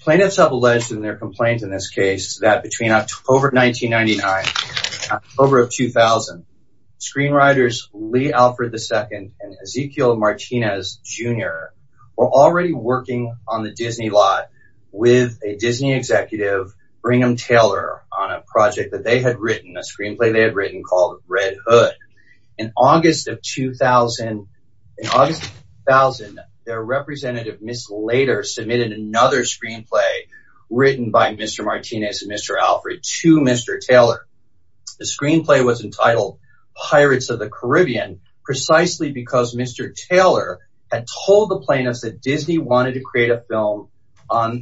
Plaintiffs have alleged in their complaint in this case that between October 1999 and October 2000, screenwriters Lee Alfred, II and Ezequiel Martinez, Jr. were already working on the Disney lot with a Disney executive, Brigham Taylor, on a project that they had written, a screenplay they had written called Red Hood. In August 2000, their representative, Ms. Lader, submitted another screenplay written by Mr. Martinez and Mr. Alfred to Mr. Taylor. The screenplay was entitled Pirates of the Caribbean, precisely because Mr. Taylor had told the plaintiffs that Disney wanted to create a film on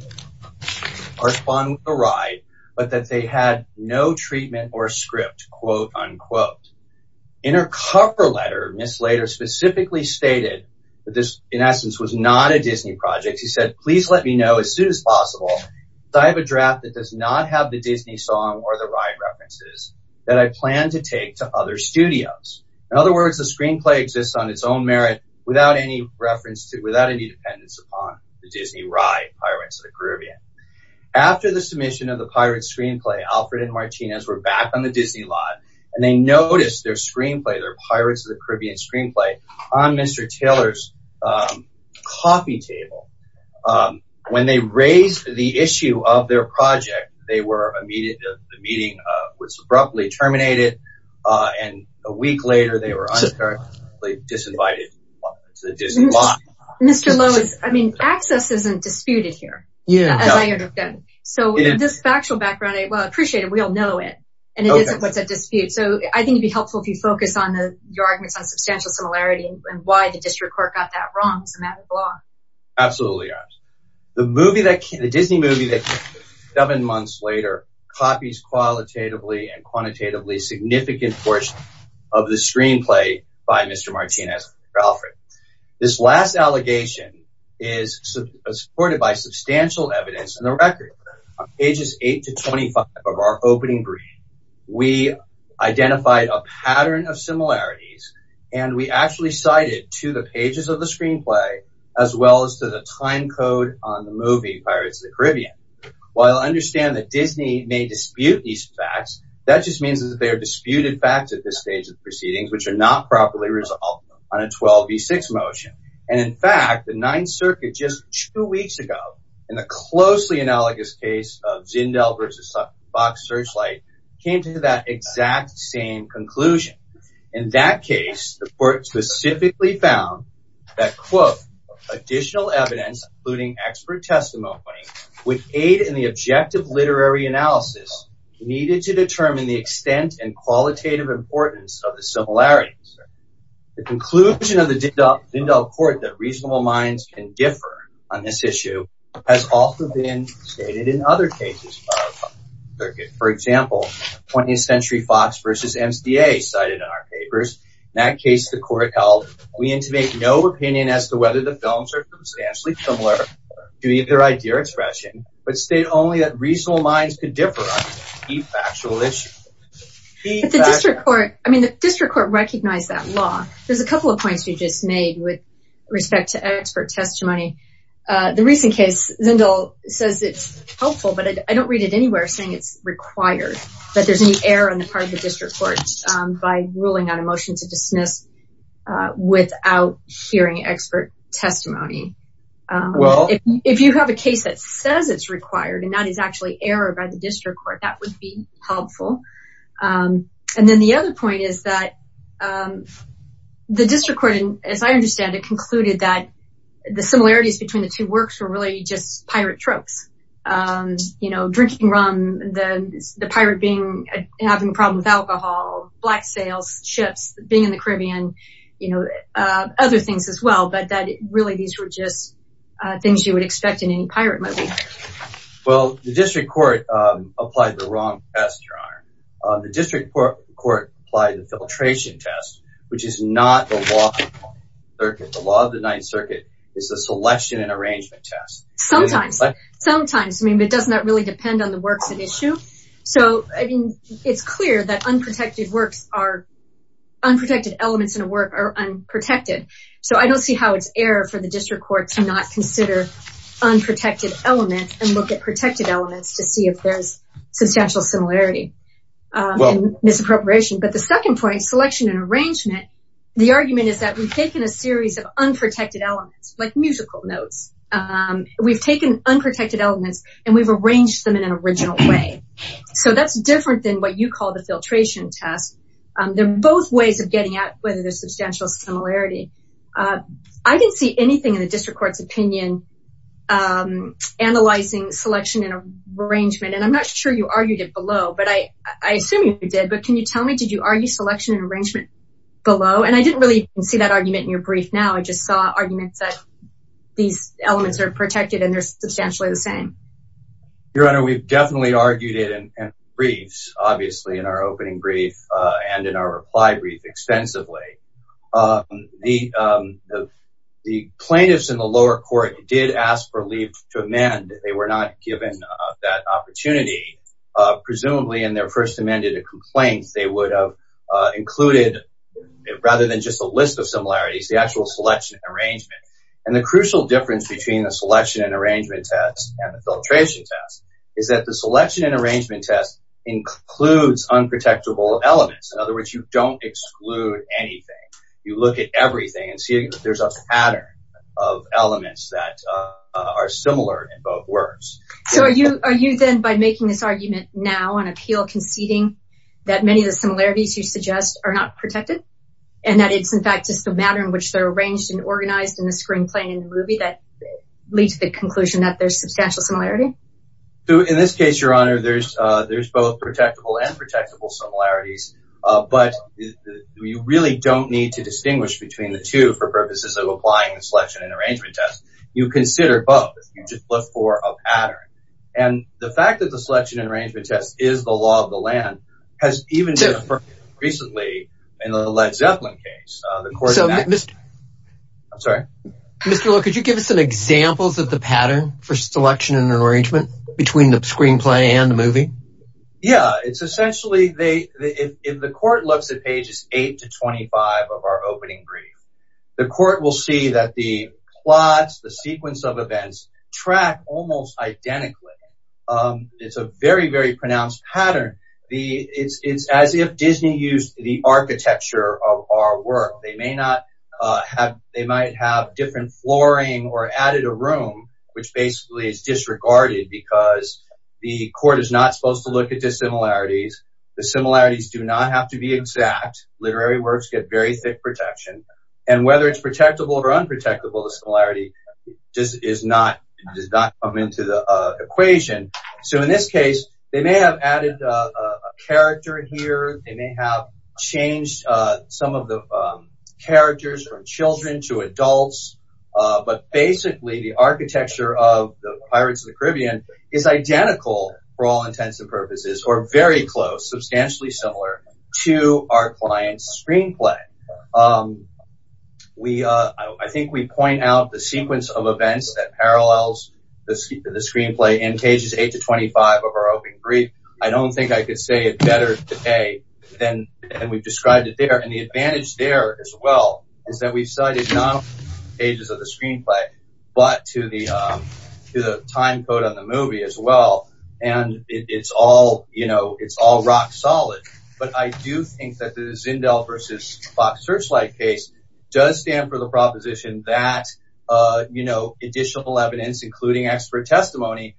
the ride, but that they had no treatment or script, quote unquote. In her cover letter, Ms. Lader specifically stated that this, in essence, was not a Disney project. She said, please let me know as soon as possible because I have a draft that does not have the Disney song or the ride references that I plan to take to other studios. In other words, the screenplay exists on its own merit without any reference to, without any dependence upon the Disney ride Pirates of the Caribbean. After the submission of the Pirates screenplay, Alfred and Martinez were back on the Disney lot and they noticed their screenplay, their Pirates of the Caribbean screenplay, on Mr. Taylor's coffee table. When they raised the issue of their project, the meeting was abruptly terminated and a week later they were uncharacteristically disinvited to the Disney lot. Mr. Lowe, access isn't disputed here, as I understand. So this factual background, well I appreciate it, we all know it, and it isn't what's at dispute. So I think it would be helpful if you focus on your arguments on substantial similarity and why the district court got that wrong as a matter of law. Absolutely. The Disney movie that came out seven months later copies qualitatively and quantitatively a significant portion of the screenplay by Mr. Martinez and Mr. Alfred. This last allegation is supported by substantial evidence in the record on pages 8 to 25 of our opening brief. We identified a pattern of similarities and we actually cited to the pages of the screenplay as well as to the time code on the movie Pirates of the Caribbean. While I understand that Disney may dispute these facts, that just means that they are disputed facts at this stage of proceedings which are not properly resolved on a 12 v. 6 motion. And in fact, the Ninth Circuit just two weeks ago, in the closely analogous case of Zindel versus Fox Searchlight, came to that exact same conclusion. In that case, the court specifically found that, quote, additional evidence including expert testimony would aid in the objective literary analysis needed to determine the extent and qualitative importance of the similarities. The conclusion of the Zindel court that reasonable minds can differ on this issue has also been stated in other cases. For example, 20th Century Fox versus MSDA cited in our papers. In that case, the court held, we intimate no opinion as to whether the films are substantially similar to either idea or expression, but state only that reasonable minds could differ on key factual issues. The district court recognized that law. There's a couple of points you just made with respect to expert testimony. The recent case, Zindel says it's helpful, but I don't read it anywhere saying it's required that there's any error on the part of the district court by ruling out a motion to dismiss without hearing expert testimony. Well, if you have a case that says it's required and that is actually error by the district court, that would be helpful. And then the other point is that the district court, as I understand it, concluded that the similarities between the two works were really just pirate tropes. You know, drinking rum, the pirate having a problem with alcohol, black sails, ships, being in the Caribbean, you know, other things as well. But that really these were just things you would expect in any pirate movie. Well, the district court applied the wrong test. The district court applied the filtration test, which is not the law of the Ninth Circuit. The law of the Ninth Circuit is the selection and arrangement test. Sometimes, sometimes. I mean, it does not really depend on the works at issue. So it's clear that unprotected works are unprotected elements in a work are unprotected. So I don't see how it's error for the district court to not consider unprotected elements and look at protected elements to see if there's substantial similarity misappropriation. But the second point selection and arrangement, the argument is that we've taken a series of unprotected elements like musical notes. We've taken unprotected elements and we've arranged them in an original way. So that's different than what you call the filtration test. They're both ways of getting at whether there's substantial similarity. I didn't see anything in the district court's opinion analyzing selection and arrangement. And I'm not sure you argued it below, but I assume you did. But can you tell me, did you argue selection and arrangement below? And I didn't really see that argument in your brief. Now, I just saw arguments that these elements are protected and they're substantially the same. Your Honor, we've definitely argued it in briefs, obviously, in our opening brief and in our reply brief extensively. The plaintiffs in the lower court did ask for leave to amend. They were not given that opportunity. Presumably, in their first amended complaint, they would have included, rather than just a list of similarities, the actual selection and arrangement. And the crucial difference between the selection and arrangement test and the filtration test is that the selection and arrangement test includes unprotectable elements. In other words, you don't exclude anything. You look at everything and see that there's a pattern of elements that are similar in both words. So are you then, by making this argument now on appeal, conceding that many of the similarities you suggest are not protected? And that it's, in fact, just a matter in which they're arranged and organized in the screenplay and in the movie that leads to the conclusion that there's substantial similarity? In this case, Your Honor, there's both protectable and protectable similarities. But you really don't need to distinguish between the two for purposes of applying the selection and arrangement test. You consider both. You just look for a pattern. And the fact that the selection and arrangement test is the law of the land has even been affirmed recently in the Led Zeppelin case. I'm sorry? Mr. Law, could you give us some examples of the pattern for selection and arrangement between the screenplay and the movie? Yeah. It's essentially, if the court looks at pages 8 to 25 of our opening brief, the court will see that the plots, the sequence of events, track almost identically. It's a very, very pronounced pattern. It's as if Disney used the architecture of our work. They may not have—they might have different flooring or added a room, which basically is disregarded because the court is not supposed to look at dissimilarities. The similarities do not have to be exact. Literary works get very thick protection. And whether it's protectable or unprotectable, the similarity does not come into the equation. So in this case, they may have added a character here. They may have changed some of the characters from children to adults. But basically, the architecture of Pirates of the Caribbean is identical for all intents and purposes, or very close, substantially similar, to our client's screenplay. I think we point out the sequence of events that parallels the screenplay in pages 8 to 25 of our opening brief. I don't think I could say it better today than we've described it there. And the advantage there as well is that we've cited not only the pages of the screenplay, but to the time code on the movie as well. And it's all, you know, it's all rock solid. But I do think that the Zindel versus Fox Searchlight case does stand for the proposition that, you know, additional evidence, including expert testimony,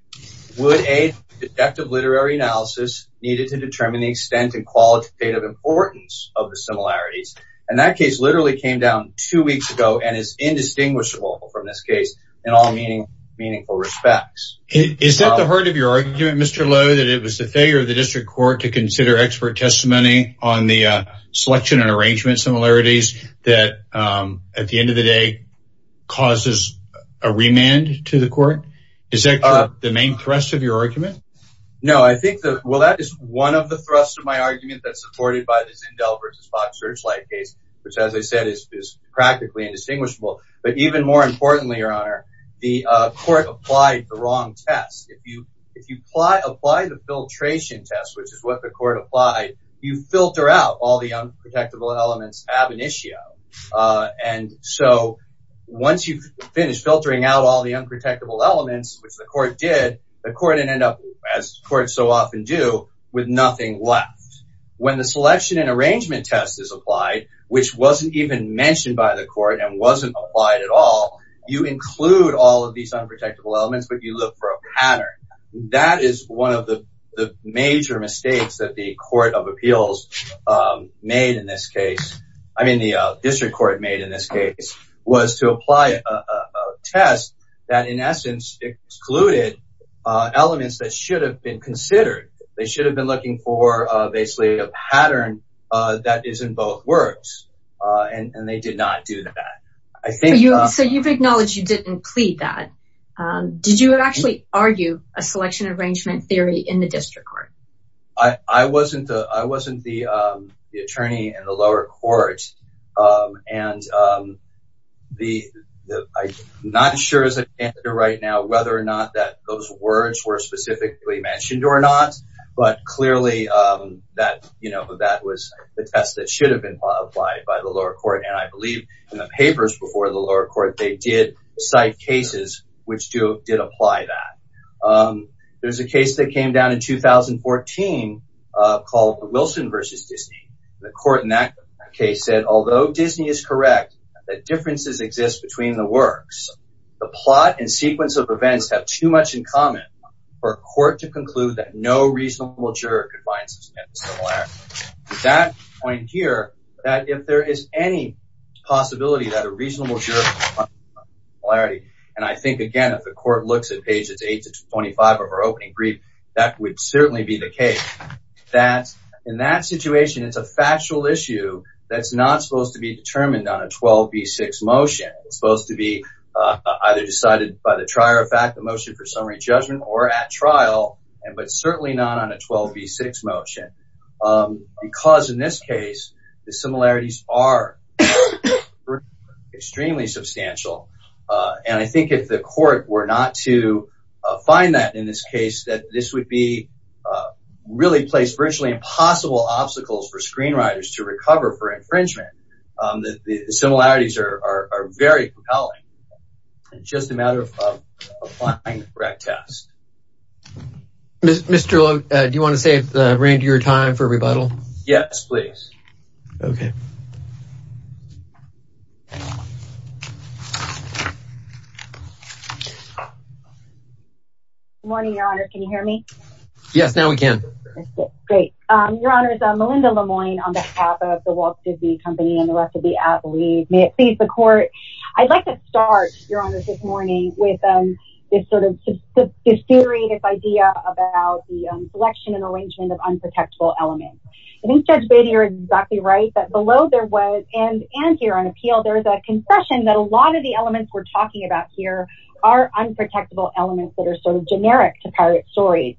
would aid detective literary analysis needed to determine the extent and qualitative importance of the similarities. And that case literally came down two weeks ago and is indistinguishable from this case in all meaningful respects. Is that the heart of your argument, Mr. Lowe, that it was the failure of the district court to consider expert testimony on the selection and arrangement similarities that, at the end of the day, causes a remand to the court? Is that the main thrust of your argument? No, I think that, well, that is one of the thrusts of my argument that's supported by the Zindel versus Fox Searchlight case, which, as I said, is practically indistinguishable. But even more importantly, Your Honor, the court applied the wrong test. If you apply the filtration test, which is what the court applied, you filter out all the unprotectable elements ab initio. And so once you've finished filtering out all the unprotectable elements, which the court did, the court ended up, as courts so often do, with nothing left. When the selection and arrangement test is applied, which wasn't even mentioned by the court and wasn't applied at all, you include all of these unprotectable elements, but you look for a pattern. That is one of the major mistakes that the court of appeals made in this case. I mean, the district court made in this case was to apply a test that, in essence, excluded elements that should have been considered. They should have been looking for basically a pattern that is in both words, and they did not do that. So you've acknowledged you didn't plead that. Did you actually argue a selection and arrangement theory in the district court? I wasn't the attorney in the lower court, and I'm not sure as a candidate right now whether or not those words were specifically mentioned or not. But clearly, that was the test that should have been applied by the lower court. And I believe in the papers before the lower court, they did cite cases which did apply that. There's a case that came down in 2014 called Wilson v. Disney. The court in that case said, although Disney is correct that differences exist between the works, the plot and sequence of events have too much in common for a court to conclude that no reasonable juror could find such a similarity. That point here, that if there is any possibility that a reasonable juror could find a similarity, and I think, again, if the court looks at pages 8 to 25 of our opening brief, that would certainly be the case, that in that situation, it's a factual issue that's not supposed to be determined on a 12b6 motion. It's supposed to be either decided by the trier of fact, the motion for summary judgment, or at trial, but certainly not on a 12b6 motion. Because in this case, the similarities are extremely substantial, and I think if the court were not to find that in this case, that this would really place virtually impossible obstacles for screenwriters to recover for infringement, the similarities are very compelling. It's just a matter of applying the correct test. Mr. Lowe, do you want to save the remainder of your time for rebuttal? Yes, please. Okay. Good morning, Your Honor. Can you hear me? Yes, now we can. Great. Your Honor, this is Melinda Lemoine on behalf of the Walt Disney Company and the rest of the athlete. May it please the court. I'd like to start, Your Honor, this morning with this sort of disjointed idea about the selection and arrangement of unprotectable elements. I think Judge Beatty, you're exactly right, that below there was, and here on appeal, there's a concession that a lot of the elements we're talking about here are unprotectable elements that are sort of generic to pirate stories.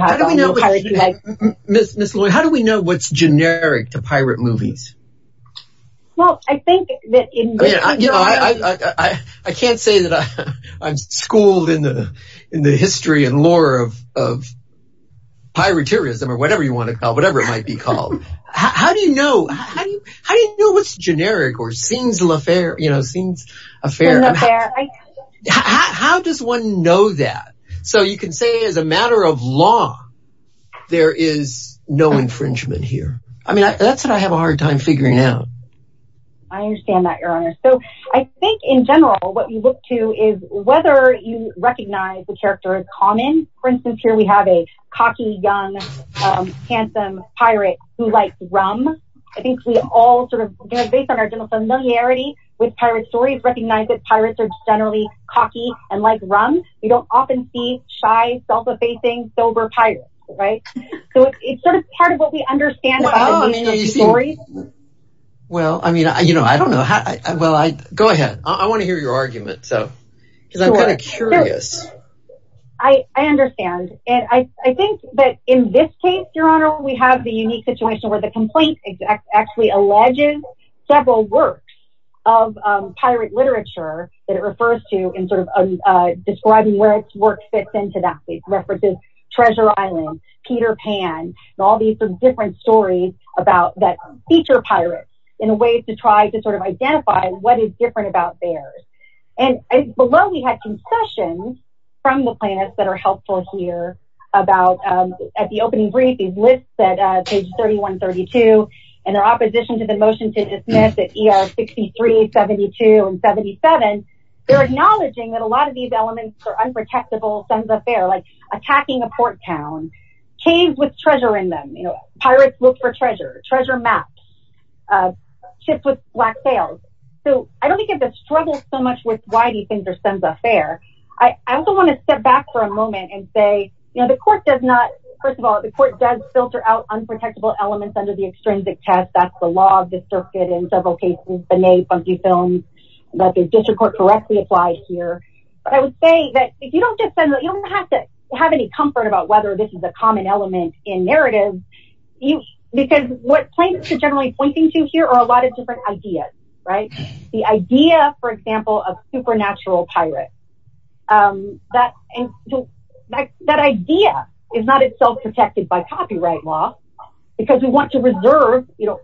How do we know what's generic to pirate movies? I can't say that I'm schooled in the history and lore of piraterism or whatever you want to call it, whatever it might be called. How do you know what's generic or scenes la faire? How does one know that? So you can say as a matter of law, there is no infringement here. I mean, that's what I have a hard time figuring out. I understand that, Your Honor. So I think in general, what we look to is whether you recognize the character in common. For instance, here we have a cocky, young, handsome pirate who likes rum. I think we all sort of based on our general familiarity with pirate stories recognize that pirates are generally cocky and like rum. You don't often see shy, self-effacing, sober pirates. So it's sort of part of what we understand about the meaning of stories. Well, I mean, I don't know. Go ahead. I want to hear your argument. Because I'm kind of curious. I understand. I think that in this case, Your Honor, we have the unique situation where the complaint actually alleges several works of pirate literature that it refers to in sort of describing where its work fits into that. It references Treasure Island, Peter Pan, and all these different stories about that feature pirate in a way to try to sort of identify what is different about theirs. And below, we had concessions from the plaintiffs that are helpful here about at the opening brief, these lists at page 3132, and their opposition to the motion to dismiss at ER 63, 72, and 77. They're acknowledging that a lot of these elements are unprotectable, sans affair, like attacking a port town, caves with treasure in them. Pirates look for treasure, treasure maps, ships with black sails. So I don't think it's a struggle so much with why these things are sans affair. I also want to step back for a moment and say, you know, the court does not. First of all, the court does filter out unprotectable elements under the extrinsic test. That's the law of the circuit in several cases, Benet, Funky Films, that the district court correctly applied here. But I would say that if you don't defend that, you don't have to have any comfort about whether this is a common element in narrative. Because what plaintiffs are generally pointing to here are a lot of different ideas, right? The idea, for example, of supernatural pirates. That idea is not itself protected by copyright law because we want to reserve, you know,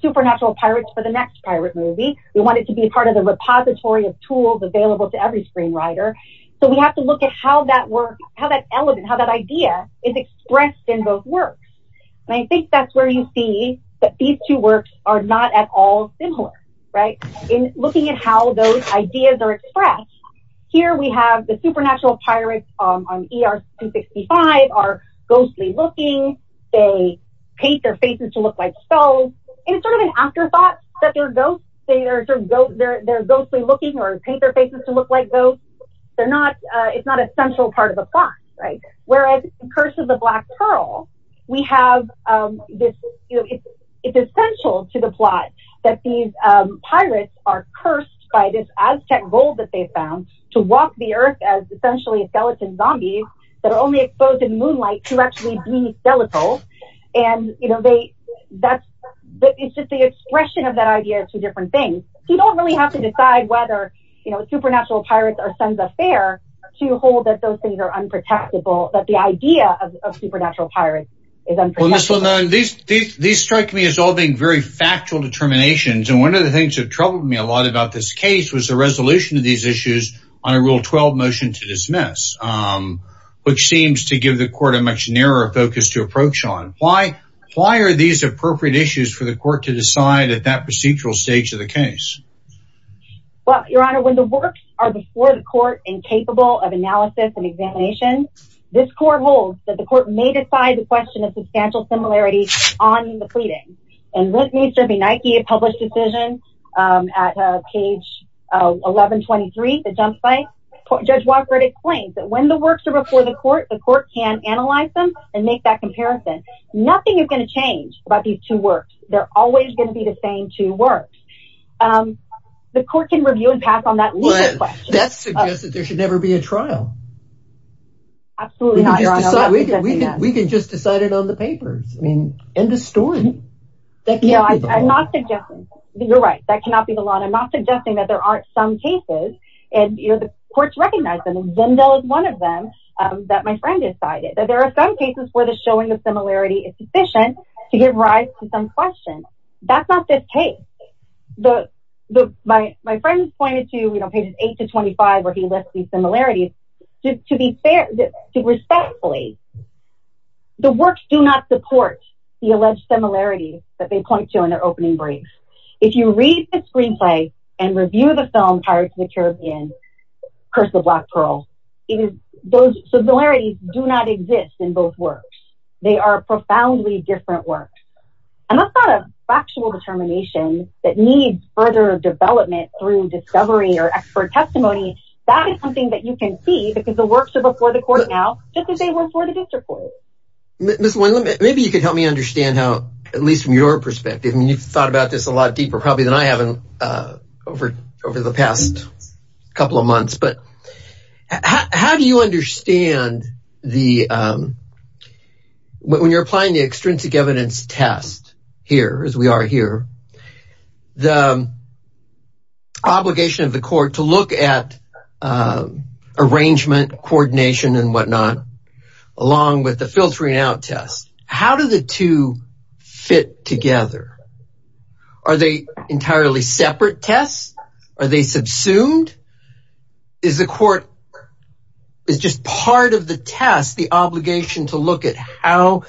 supernatural pirates for the next pirate movie. We want it to be part of the repository of tools available to every screenwriter. So we have to look at how that work, how that element, how that idea is expressed in both works. And I think that's where you see that these two works are not at all similar. In looking at how those ideas are expressed, here we have the supernatural pirates on ER-265 are ghostly looking. They paint their faces to look like skulls. And it's sort of an afterthought that they're ghosts. They're ghostly looking or paint their faces to look like ghosts. It's not a central part of the plot. Whereas Curse of the Black Pearl, we have this, you know, it's essential to the plot that these pirates are cursed by this Aztec gold that they found to walk the earth as essentially skeleton zombies that are only exposed in moonlight to actually be skeletal. And, you know, it's just the expression of that idea to different things. You don't really have to decide whether, you know, supernatural pirates are sons of fair to hold that those things are unprotectable, that the idea of supernatural pirates is unprotectable. These strike me as all being very factual determinations. And one of the things that troubled me a lot about this case was the resolution of these issues on a Rule 12 motion to dismiss, which seems to give the court a much narrower focus to approach on. Why are these appropriate issues for the court to decide at that procedural stage of the case? Well, Your Honor, when the works are before the court and capable of analysis and examination, this court holds that the court may decide the question of substantial similarity on the pleading. And this needs to be Nike, a published decision at page 11, 23, the jump site. Judge Walker explains that when the works are before the court, the court can analyze them and make that comparison. Nothing is going to change about these two works. They're always going to be the same two works. The court can review and pass on that. That's suggested there should never be a trial. Absolutely not. We can just decide it on the papers. I mean, end of story. I'm not suggesting. You're right. That cannot be the law. I'm not suggesting that there aren't some cases. And, you know, the courts recognize them. Zimdel is one of them that my friend decided that there are some cases where the showing of similarity is sufficient to give rise to some question. That's not this case. My friend pointed to, you know, pages 8 to 25 where he left these similarities. To be fair, respectfully, the works do not support the alleged similarities that they point to in their opening brief. If you read the screenplay and review the film Pirates of the Caribbean, Curse of Black Pearl, those similarities do not exist in both works. They are profoundly different works. And that's not a factual determination that needs further development through discovery or expert testimony. That is something that you can see because the works are before the court now just as they were before the district court. Ms. Moynihan, maybe you could help me understand how, at least from your perspective, I mean, you've thought about this a lot deeper probably than I have over the past couple of months. But how do you understand when you're applying the extrinsic evidence test here, as we are here, the obligation of the court to look at arrangement, coordination, and whatnot, along with the filtering out test. How do the two fit together? Are they entirely separate tests? Are they subsumed? Is the court, is just part of the test, the obligation to look at how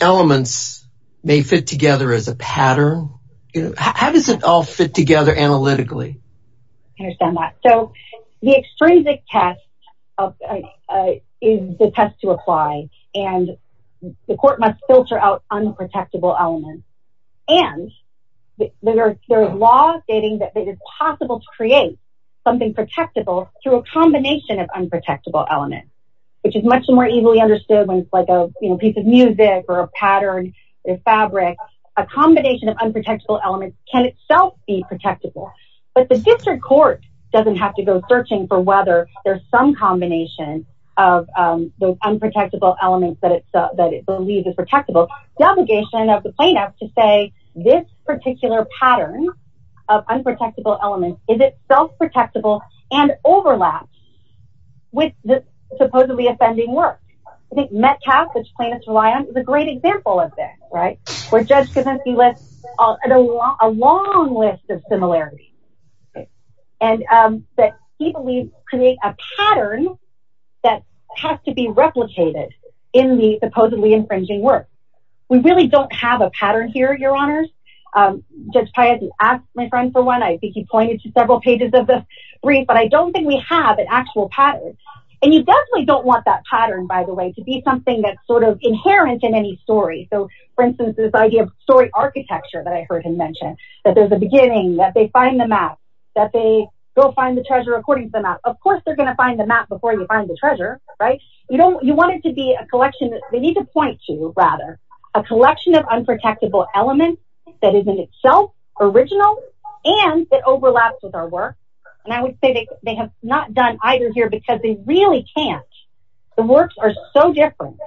elements may fit together as a pattern? How does it all fit together analytically? I understand that. So the extrinsic test is the test to apply. And the court must filter out unprotectable elements. And there are laws stating that it is possible to create something protectable through a combination of unprotectable elements, which is much more easily understood when it's like a piece of music or a pattern or fabric. A combination of unprotectable elements can itself be protectable. But the district court doesn't have to go searching for whether there's some combination of those unprotectable elements that it believes is protectable. The obligation of the plaintiff to say this particular pattern of unprotectable elements is itself protectable and overlaps with the supposedly offending work. I think Metcalfe, which plaintiffs rely on, is a great example of this, right? Where Judge Kavinsky lists a long list of similarities. And that he believes create a pattern that has to be replicated in the supposedly infringing work. We really don't have a pattern here, Your Honors. Judge Piatti asked my friend for one. I think he pointed to several pages of this brief. But I don't think we have an actual pattern. And you definitely don't want that pattern, by the way, to be something that's sort of inherent in any story. So, for instance, this idea of story architecture that I heard him mention. That there's a beginning, that they find the map, that they go find the treasure according to the map. Of course they're going to find the map before you find the treasure, right? You want it to be a collection. They need to point to, rather, a collection of unprotectable elements that is in itself original and that overlaps with our work. And I would say they have not done either here because they really can't. The works are so different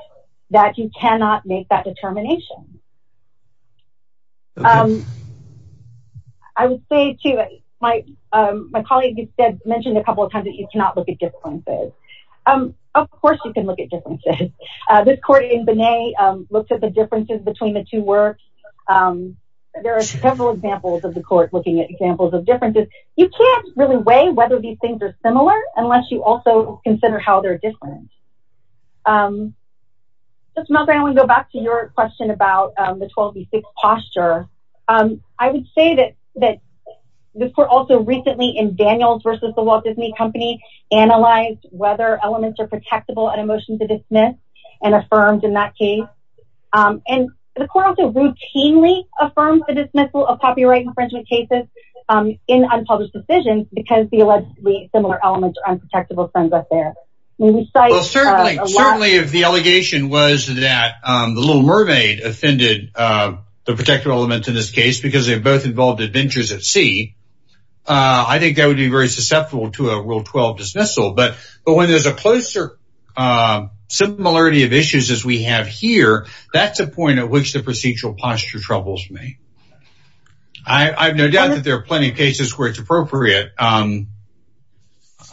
that you cannot make that determination. I would say, too, my colleague mentioned a couple of times that you cannot look at differences. Of course you can look at differences. This court in Binet looked at the differences between the two works. There are several examples of the court looking at examples of differences. You can't really weigh whether these things are similar unless you also consider how they're different. Ms. Malgrave, I want to go back to your question about the 12 v. 6 posture. I would say that this court also recently, in Daniels v. The Walt Disney Company, analyzed whether elements are protectable at a motion to dismiss and affirmed in that case. The court also routinely affirmed the dismissal of copyright infringement cases in unpublished decisions because the allegedly similar elements are unprotectable. Certainly, if the allegation was that the Little Mermaid offended the protective element in this case because they were both involved in adventures at sea, I think that would be very susceptible to a Rule 12 dismissal. But when there's a closer similarity of issues as we have here, that's a point at which the procedural posture troubles me. I have no doubt that there are plenty of cases where it's appropriate.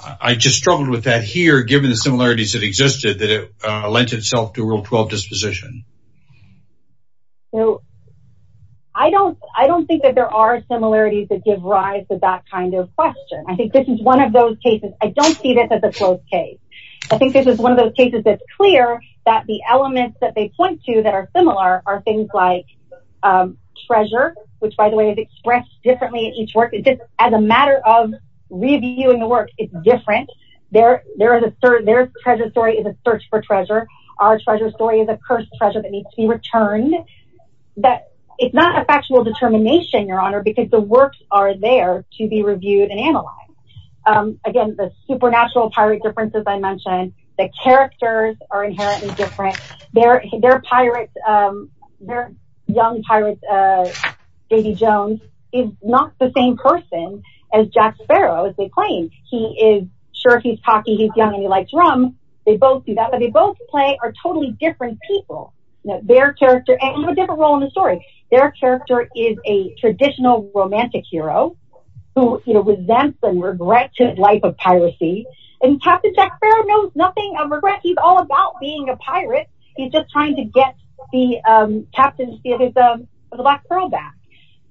I just struggled with that here given the similarities that existed that it lent itself to a Rule 12 disposition. I don't think that there are similarities that give rise to that kind of question. I think this is one of those cases. I don't see this as a close case. I think this is one of those cases that's clear that the elements that they point to that are similar are things like treasure, which by the way is expressed differently in each work. It's just as a matter of reviewing the work, it's different. Their treasure story is a search for treasure. Our treasure story is a cursed treasure that needs to be returned. It's not a factual determination, Your Honor, because the works are there to be reviewed and analyzed. Again, the supernatural pirate differences I mentioned, the characters are inherently different. Their young pirate, Davy Jones, is not the same person as Jack Sparrow as they claim. He is sure he's cocky, he's young, and he likes rum. They both do that, but they both play are totally different people. They have a different role in the story. Their character is a traditional romantic hero who resents and regrets his life of piracy. And Captain Jack Sparrow knows nothing of regret. He's all about being a pirate. He's just trying to get the captain of the Black Pearl back.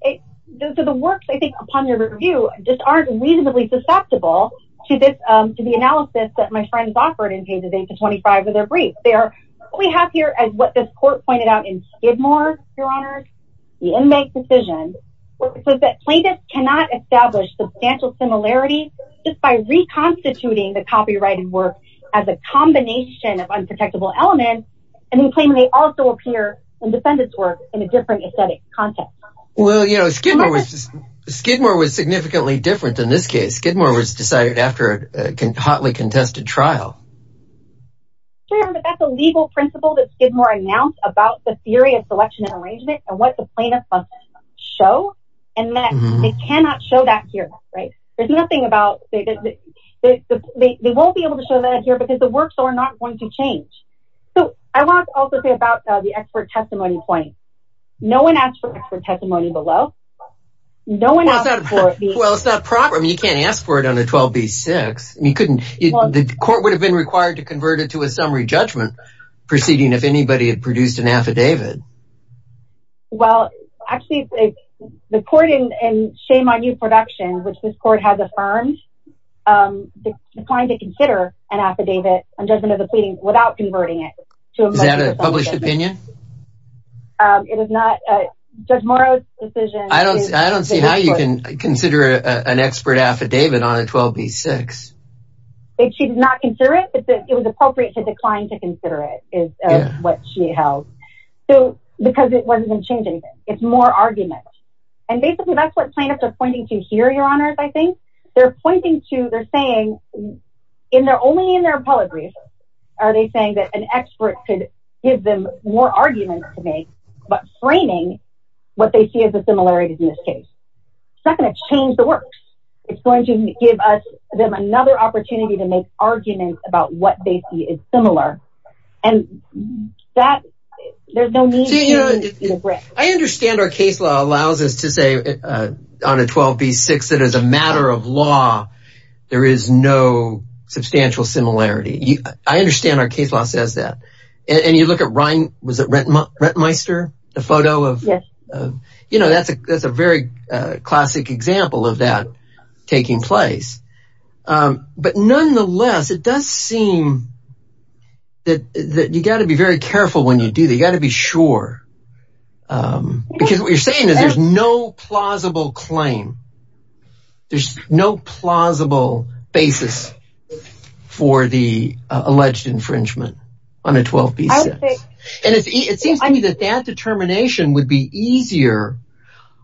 The works, I think, upon their review just aren't reasonably susceptible to the analysis that my friends offered in pages 8-25 of their brief. What we have here, as what this court pointed out in Skidmore, Your Honor, the inmate's decision, was that plaintiffs cannot establish substantial similarities just by reconstituting the copyrighted work as a combination of unprotectable elements, and then claiming they also appear in defendant's work in a different aesthetic context. Well, you know, Skidmore was significantly different in this case. Skidmore was decided after a hotly contested trial. Sure, but that's a legal principle that Skidmore announced about the theory of selection and arrangement and what the plaintiffs must show, and that they cannot show that here, right? There's nothing about – they won't be able to show that here because the works are not going to change. So I want to also say about the expert testimony point. No one asked for expert testimony below. No one asked for – Well, it's not proper. I mean, you can't ask for it under 12b-6. I mean, you couldn't. The court would have been required to convert it to a summary judgment proceeding if anybody had produced an affidavit. Well, actually, the court in Shame on You Productions, which this court has affirmed, declined to consider an affidavit, a judgment of the pleading, without converting it. Is that a published opinion? Judge Morrow's decision is – I don't see how you can consider an expert affidavit on a 12b-6. She did not consider it, but it was appropriate to decline to consider it, is what she held. So because it wasn't going to change anything. It's more argument. And basically, that's what plaintiffs are pointing to here, Your Honors, I think. They're pointing to – they're saying only in their apologies are they saying that an expert could give them more argument to make but framing what they see as a similarity in this case. It's not going to change the works. It's going to give us another opportunity to make arguments about what they see as similar. And that – there's no need to regret. I understand our case law allows us to say on a 12b-6 that as a matter of law, there is no substantial similarity. I understand our case law says that. And you look at Ryan – was it Rentmeister, the photo of – Yes. You know, that's a very classic example of that taking place. But nonetheless, it does seem that you got to be very careful when you do that. You got to be sure because what you're saying is there's no plausible claim. There's no plausible basis for the alleged infringement on a 12b-6. And it seems to me that that determination would be easier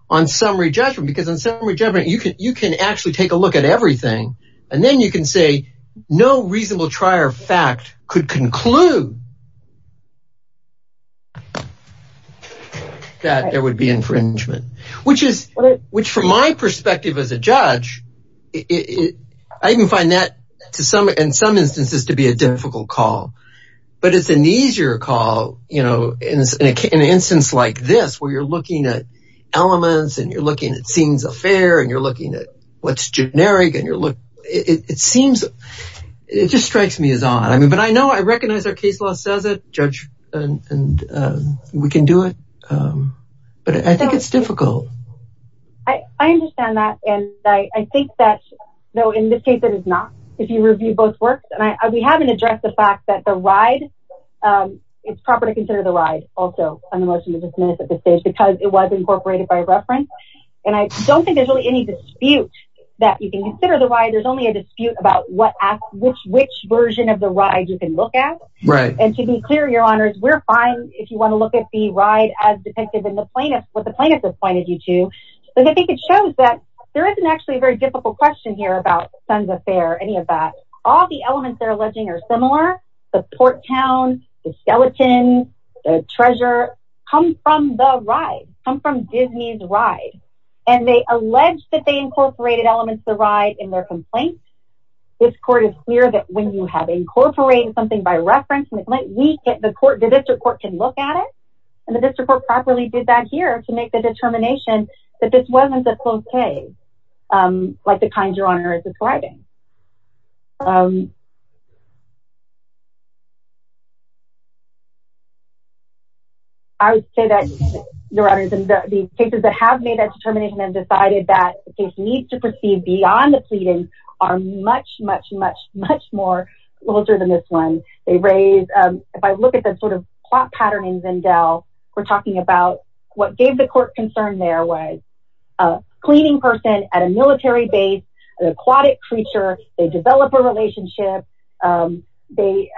on summary judgment because on summary judgment, you can actually take a look at everything. And then you can say no reasonable trier of fact could conclude that there would be infringement, which from my perspective as a judge, I even find that in some instances to be a difficult call. But it's an easier call in an instance like this where you're looking at elements and you're looking at scenes of fare and you're looking at what's generic and you're looking – it seems – it just strikes me as odd. But I know I recognize our case law says it. Judge, we can do it. But I think it's difficult. I understand that. And I think that in this case, it is not if you review both works. And we haven't addressed the fact that the ride – it's proper to consider the ride also on the motion to dismiss at this stage because it was incorporated by reference. And I don't think there's really any dispute that you can consider the ride. There's only a dispute about what – which version of the ride you can look at. Right. And to be clear, Your Honors, we're fine if you want to look at the ride as depicted in the plaintiff – what the plaintiff has pointed you to. But I think it shows that there isn't actually a very difficult question here about Sons of Fare or any of that. All the elements they're alleging are similar. The port town, the skeleton, the treasure come from the ride, come from Disney's ride. And they allege that they incorporated elements of the ride in their complaint. This court is clear that when you have incorporated something by reference, the district court can look at it. And the district court properly did that here to make the determination that this wasn't a close case like the kind Your Honor is describing. I would say that, Your Honors, the cases that have made that determination and decided that the case needs to proceed beyond the pleading are much, much, much, much more closer than this one. They raise – if I look at the sort of plot pattern in Vindel, we're talking about what gave the court concern there was a cleaning person at a military base, an aquatic creature, they develop a relationship, they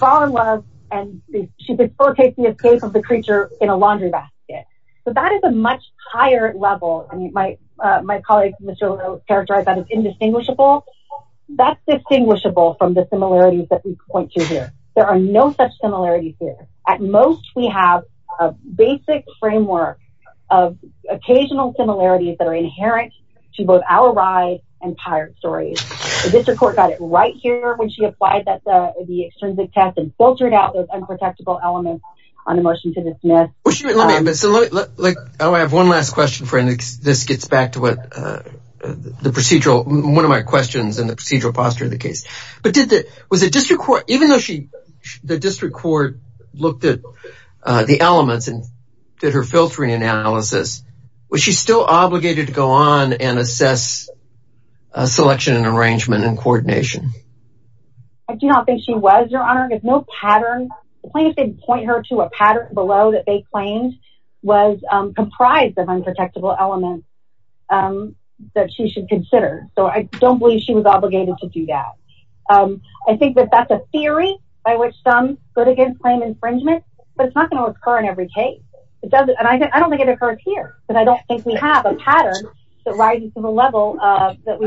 fall in love, and she before takes the escape of the creature in a laundry basket. So that is a much higher level. I mean, my colleague, Mr. Leno, characterized that as indistinguishable. That's distinguishable from the similarities that we point to here. There are no such similarities here. At most, we have a basic framework of occasional similarities that are inherent to both our ride and pirate stories. The district court got it right here when she applied the extrinsic test and filtered out those unprotectable elements on the motion to dismiss. I have one last question before this gets back to one of my questions and the procedural posture of the case. Even though the district court looked at the elements and did her filtering analysis, was she still obligated to go on and assess selection and arrangement and coordination? I do not think she was, Your Honor. The point is they didn't point her to a pattern below that they claimed was comprised of unprotectable elements that she should consider. So I don't believe she was obligated to do that. I think that that's a theory by which some go against claim infringement, but it's not going to occur in every case. I don't think it occurs here. I don't think we have a pattern that rises to the level that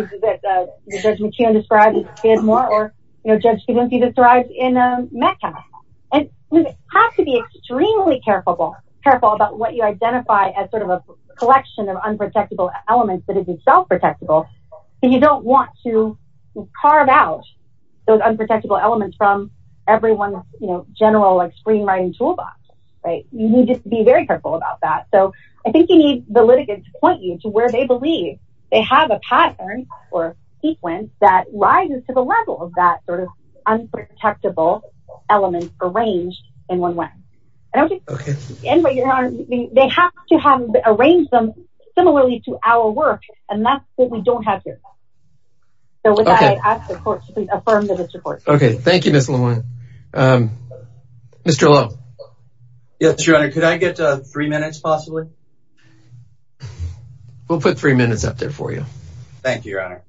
Judge McKeon described in Skidmore or Judge Convinci described in Metcalf. We have to be extremely careful about what you identify as a collection of unprotectable elements that is self-protectable. You don't want to carve out those unprotectable elements from everyone's general screenwriting toolbox. You need to be very careful about that. So I think you need the litigants to point you to where they believe they have a pattern or sequence that rises to the level of that sort of unprotectable element arranged in one way. They have to have arranged them similarly to our work, and that's what we don't have here. So with that, I ask the court to please affirm this report. Okay. Thank you, Ms. LeMoyne. Mr. Lowe. Yes, Your Honor. Could I get three minutes, possibly? We'll put three minutes up there for you. Thank you, Your Honor.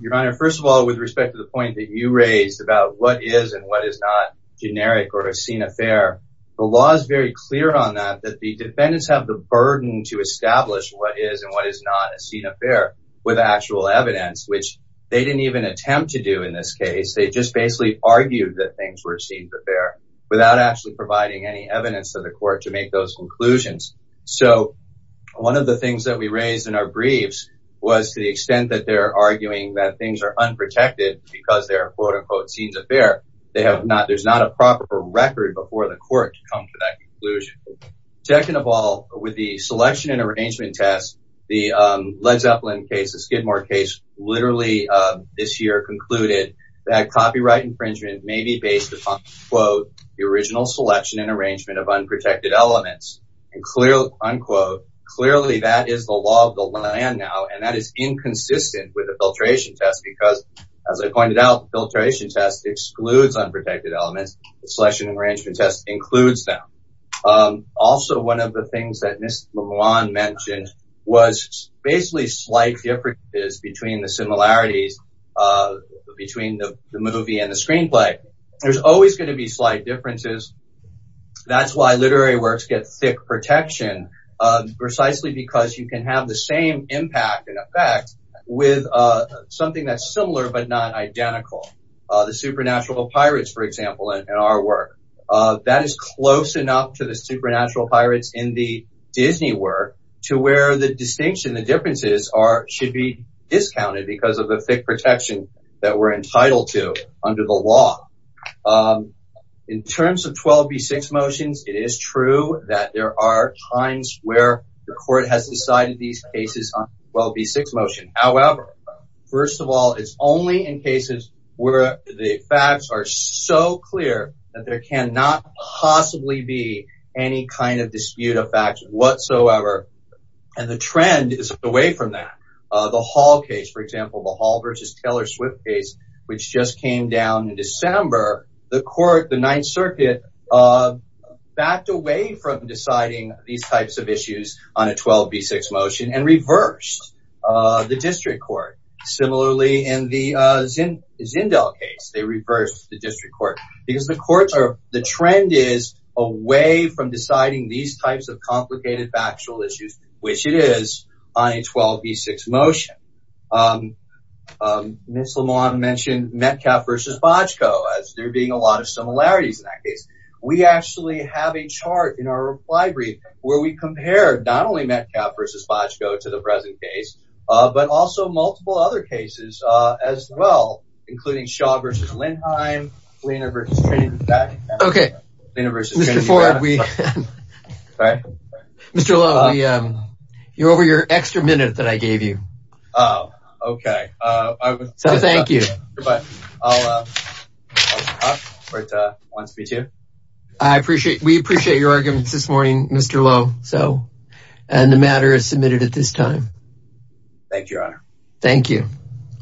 Your Honor, first of all, with respect to the point that you raised about what is and what is not generic or a seen affair, the law is very clear on that, that the defendants have the burden to establish what is and what is not a seen affair with actual evidence, which they didn't even attempt to do in this case. They just basically argued that things were a seen affair without actually providing any evidence to the court to make those conclusions. So one of the things that we raised in our briefs was to the extent that they're arguing that things are unprotected because they're a, quote, unquote, seen affair. There's not a proper record before the court to come to that conclusion. Second of all, with the selection and arrangement test, the Led Zeppelin case, the Skidmore case, literally this year concluded that copyright infringement may be based upon, quote, the original selection and arrangement of unprotected elements. And clearly, unquote, clearly that is the law of the land now. And that is inconsistent with the filtration test because, as I pointed out, the filtration test excludes unprotected elements. The selection and arrangement test includes them. Also, one of the things that Ms. LeBlanc mentioned was basically slight differences between the similarities between the movie and the screenplay. There's always going to be slight differences. That's why literary works get thick protection, precisely because you can have the same impact and effect with something that's similar but not identical. The Supernatural Pirates, for example, in our work, that is close enough to the Supernatural Pirates in the Disney work to where the distinction, the differences should be discounted because of the thick protection that we're entitled to under the law. In terms of 12b6 motions, it is true that there are times where the court has decided these cases on 12b6 motion. However, first of all, it's only in cases where the facts are so clear that there cannot possibly be any kind of dispute of facts whatsoever. And the trend is away from that. The Hall case, for example, the Hall versus Taylor Swift case, which just came down in December, the court, the Ninth Circuit, backed away from deciding these types of issues on a 12b6 motion and reversed the district court. Similarly, in the Zindel case, they reversed the district court because the courts are, the trend is away from deciding these types of complicated factual issues, which it is, on a 12b6 motion. Ms. Lamont mentioned Metcalfe versus Bojko as there being a lot of similarities in that case. We actually have a chart in our reply brief where we compare not only Metcalfe versus Bojko to the present case, but also multiple other cases as well, including Shaw versus Lindheim, Liener versus Trayton. Okay. Liener versus Trayton. Mr. Ford, you're over your extra minute that I gave you. Oh, okay. So thank you. Goodbye. I'll stop, if it wants me to. I appreciate, we appreciate your arguments this morning, Mr. Lowe. So, and the matter is submitted at this time. Thank you, Your Honor. Thank you.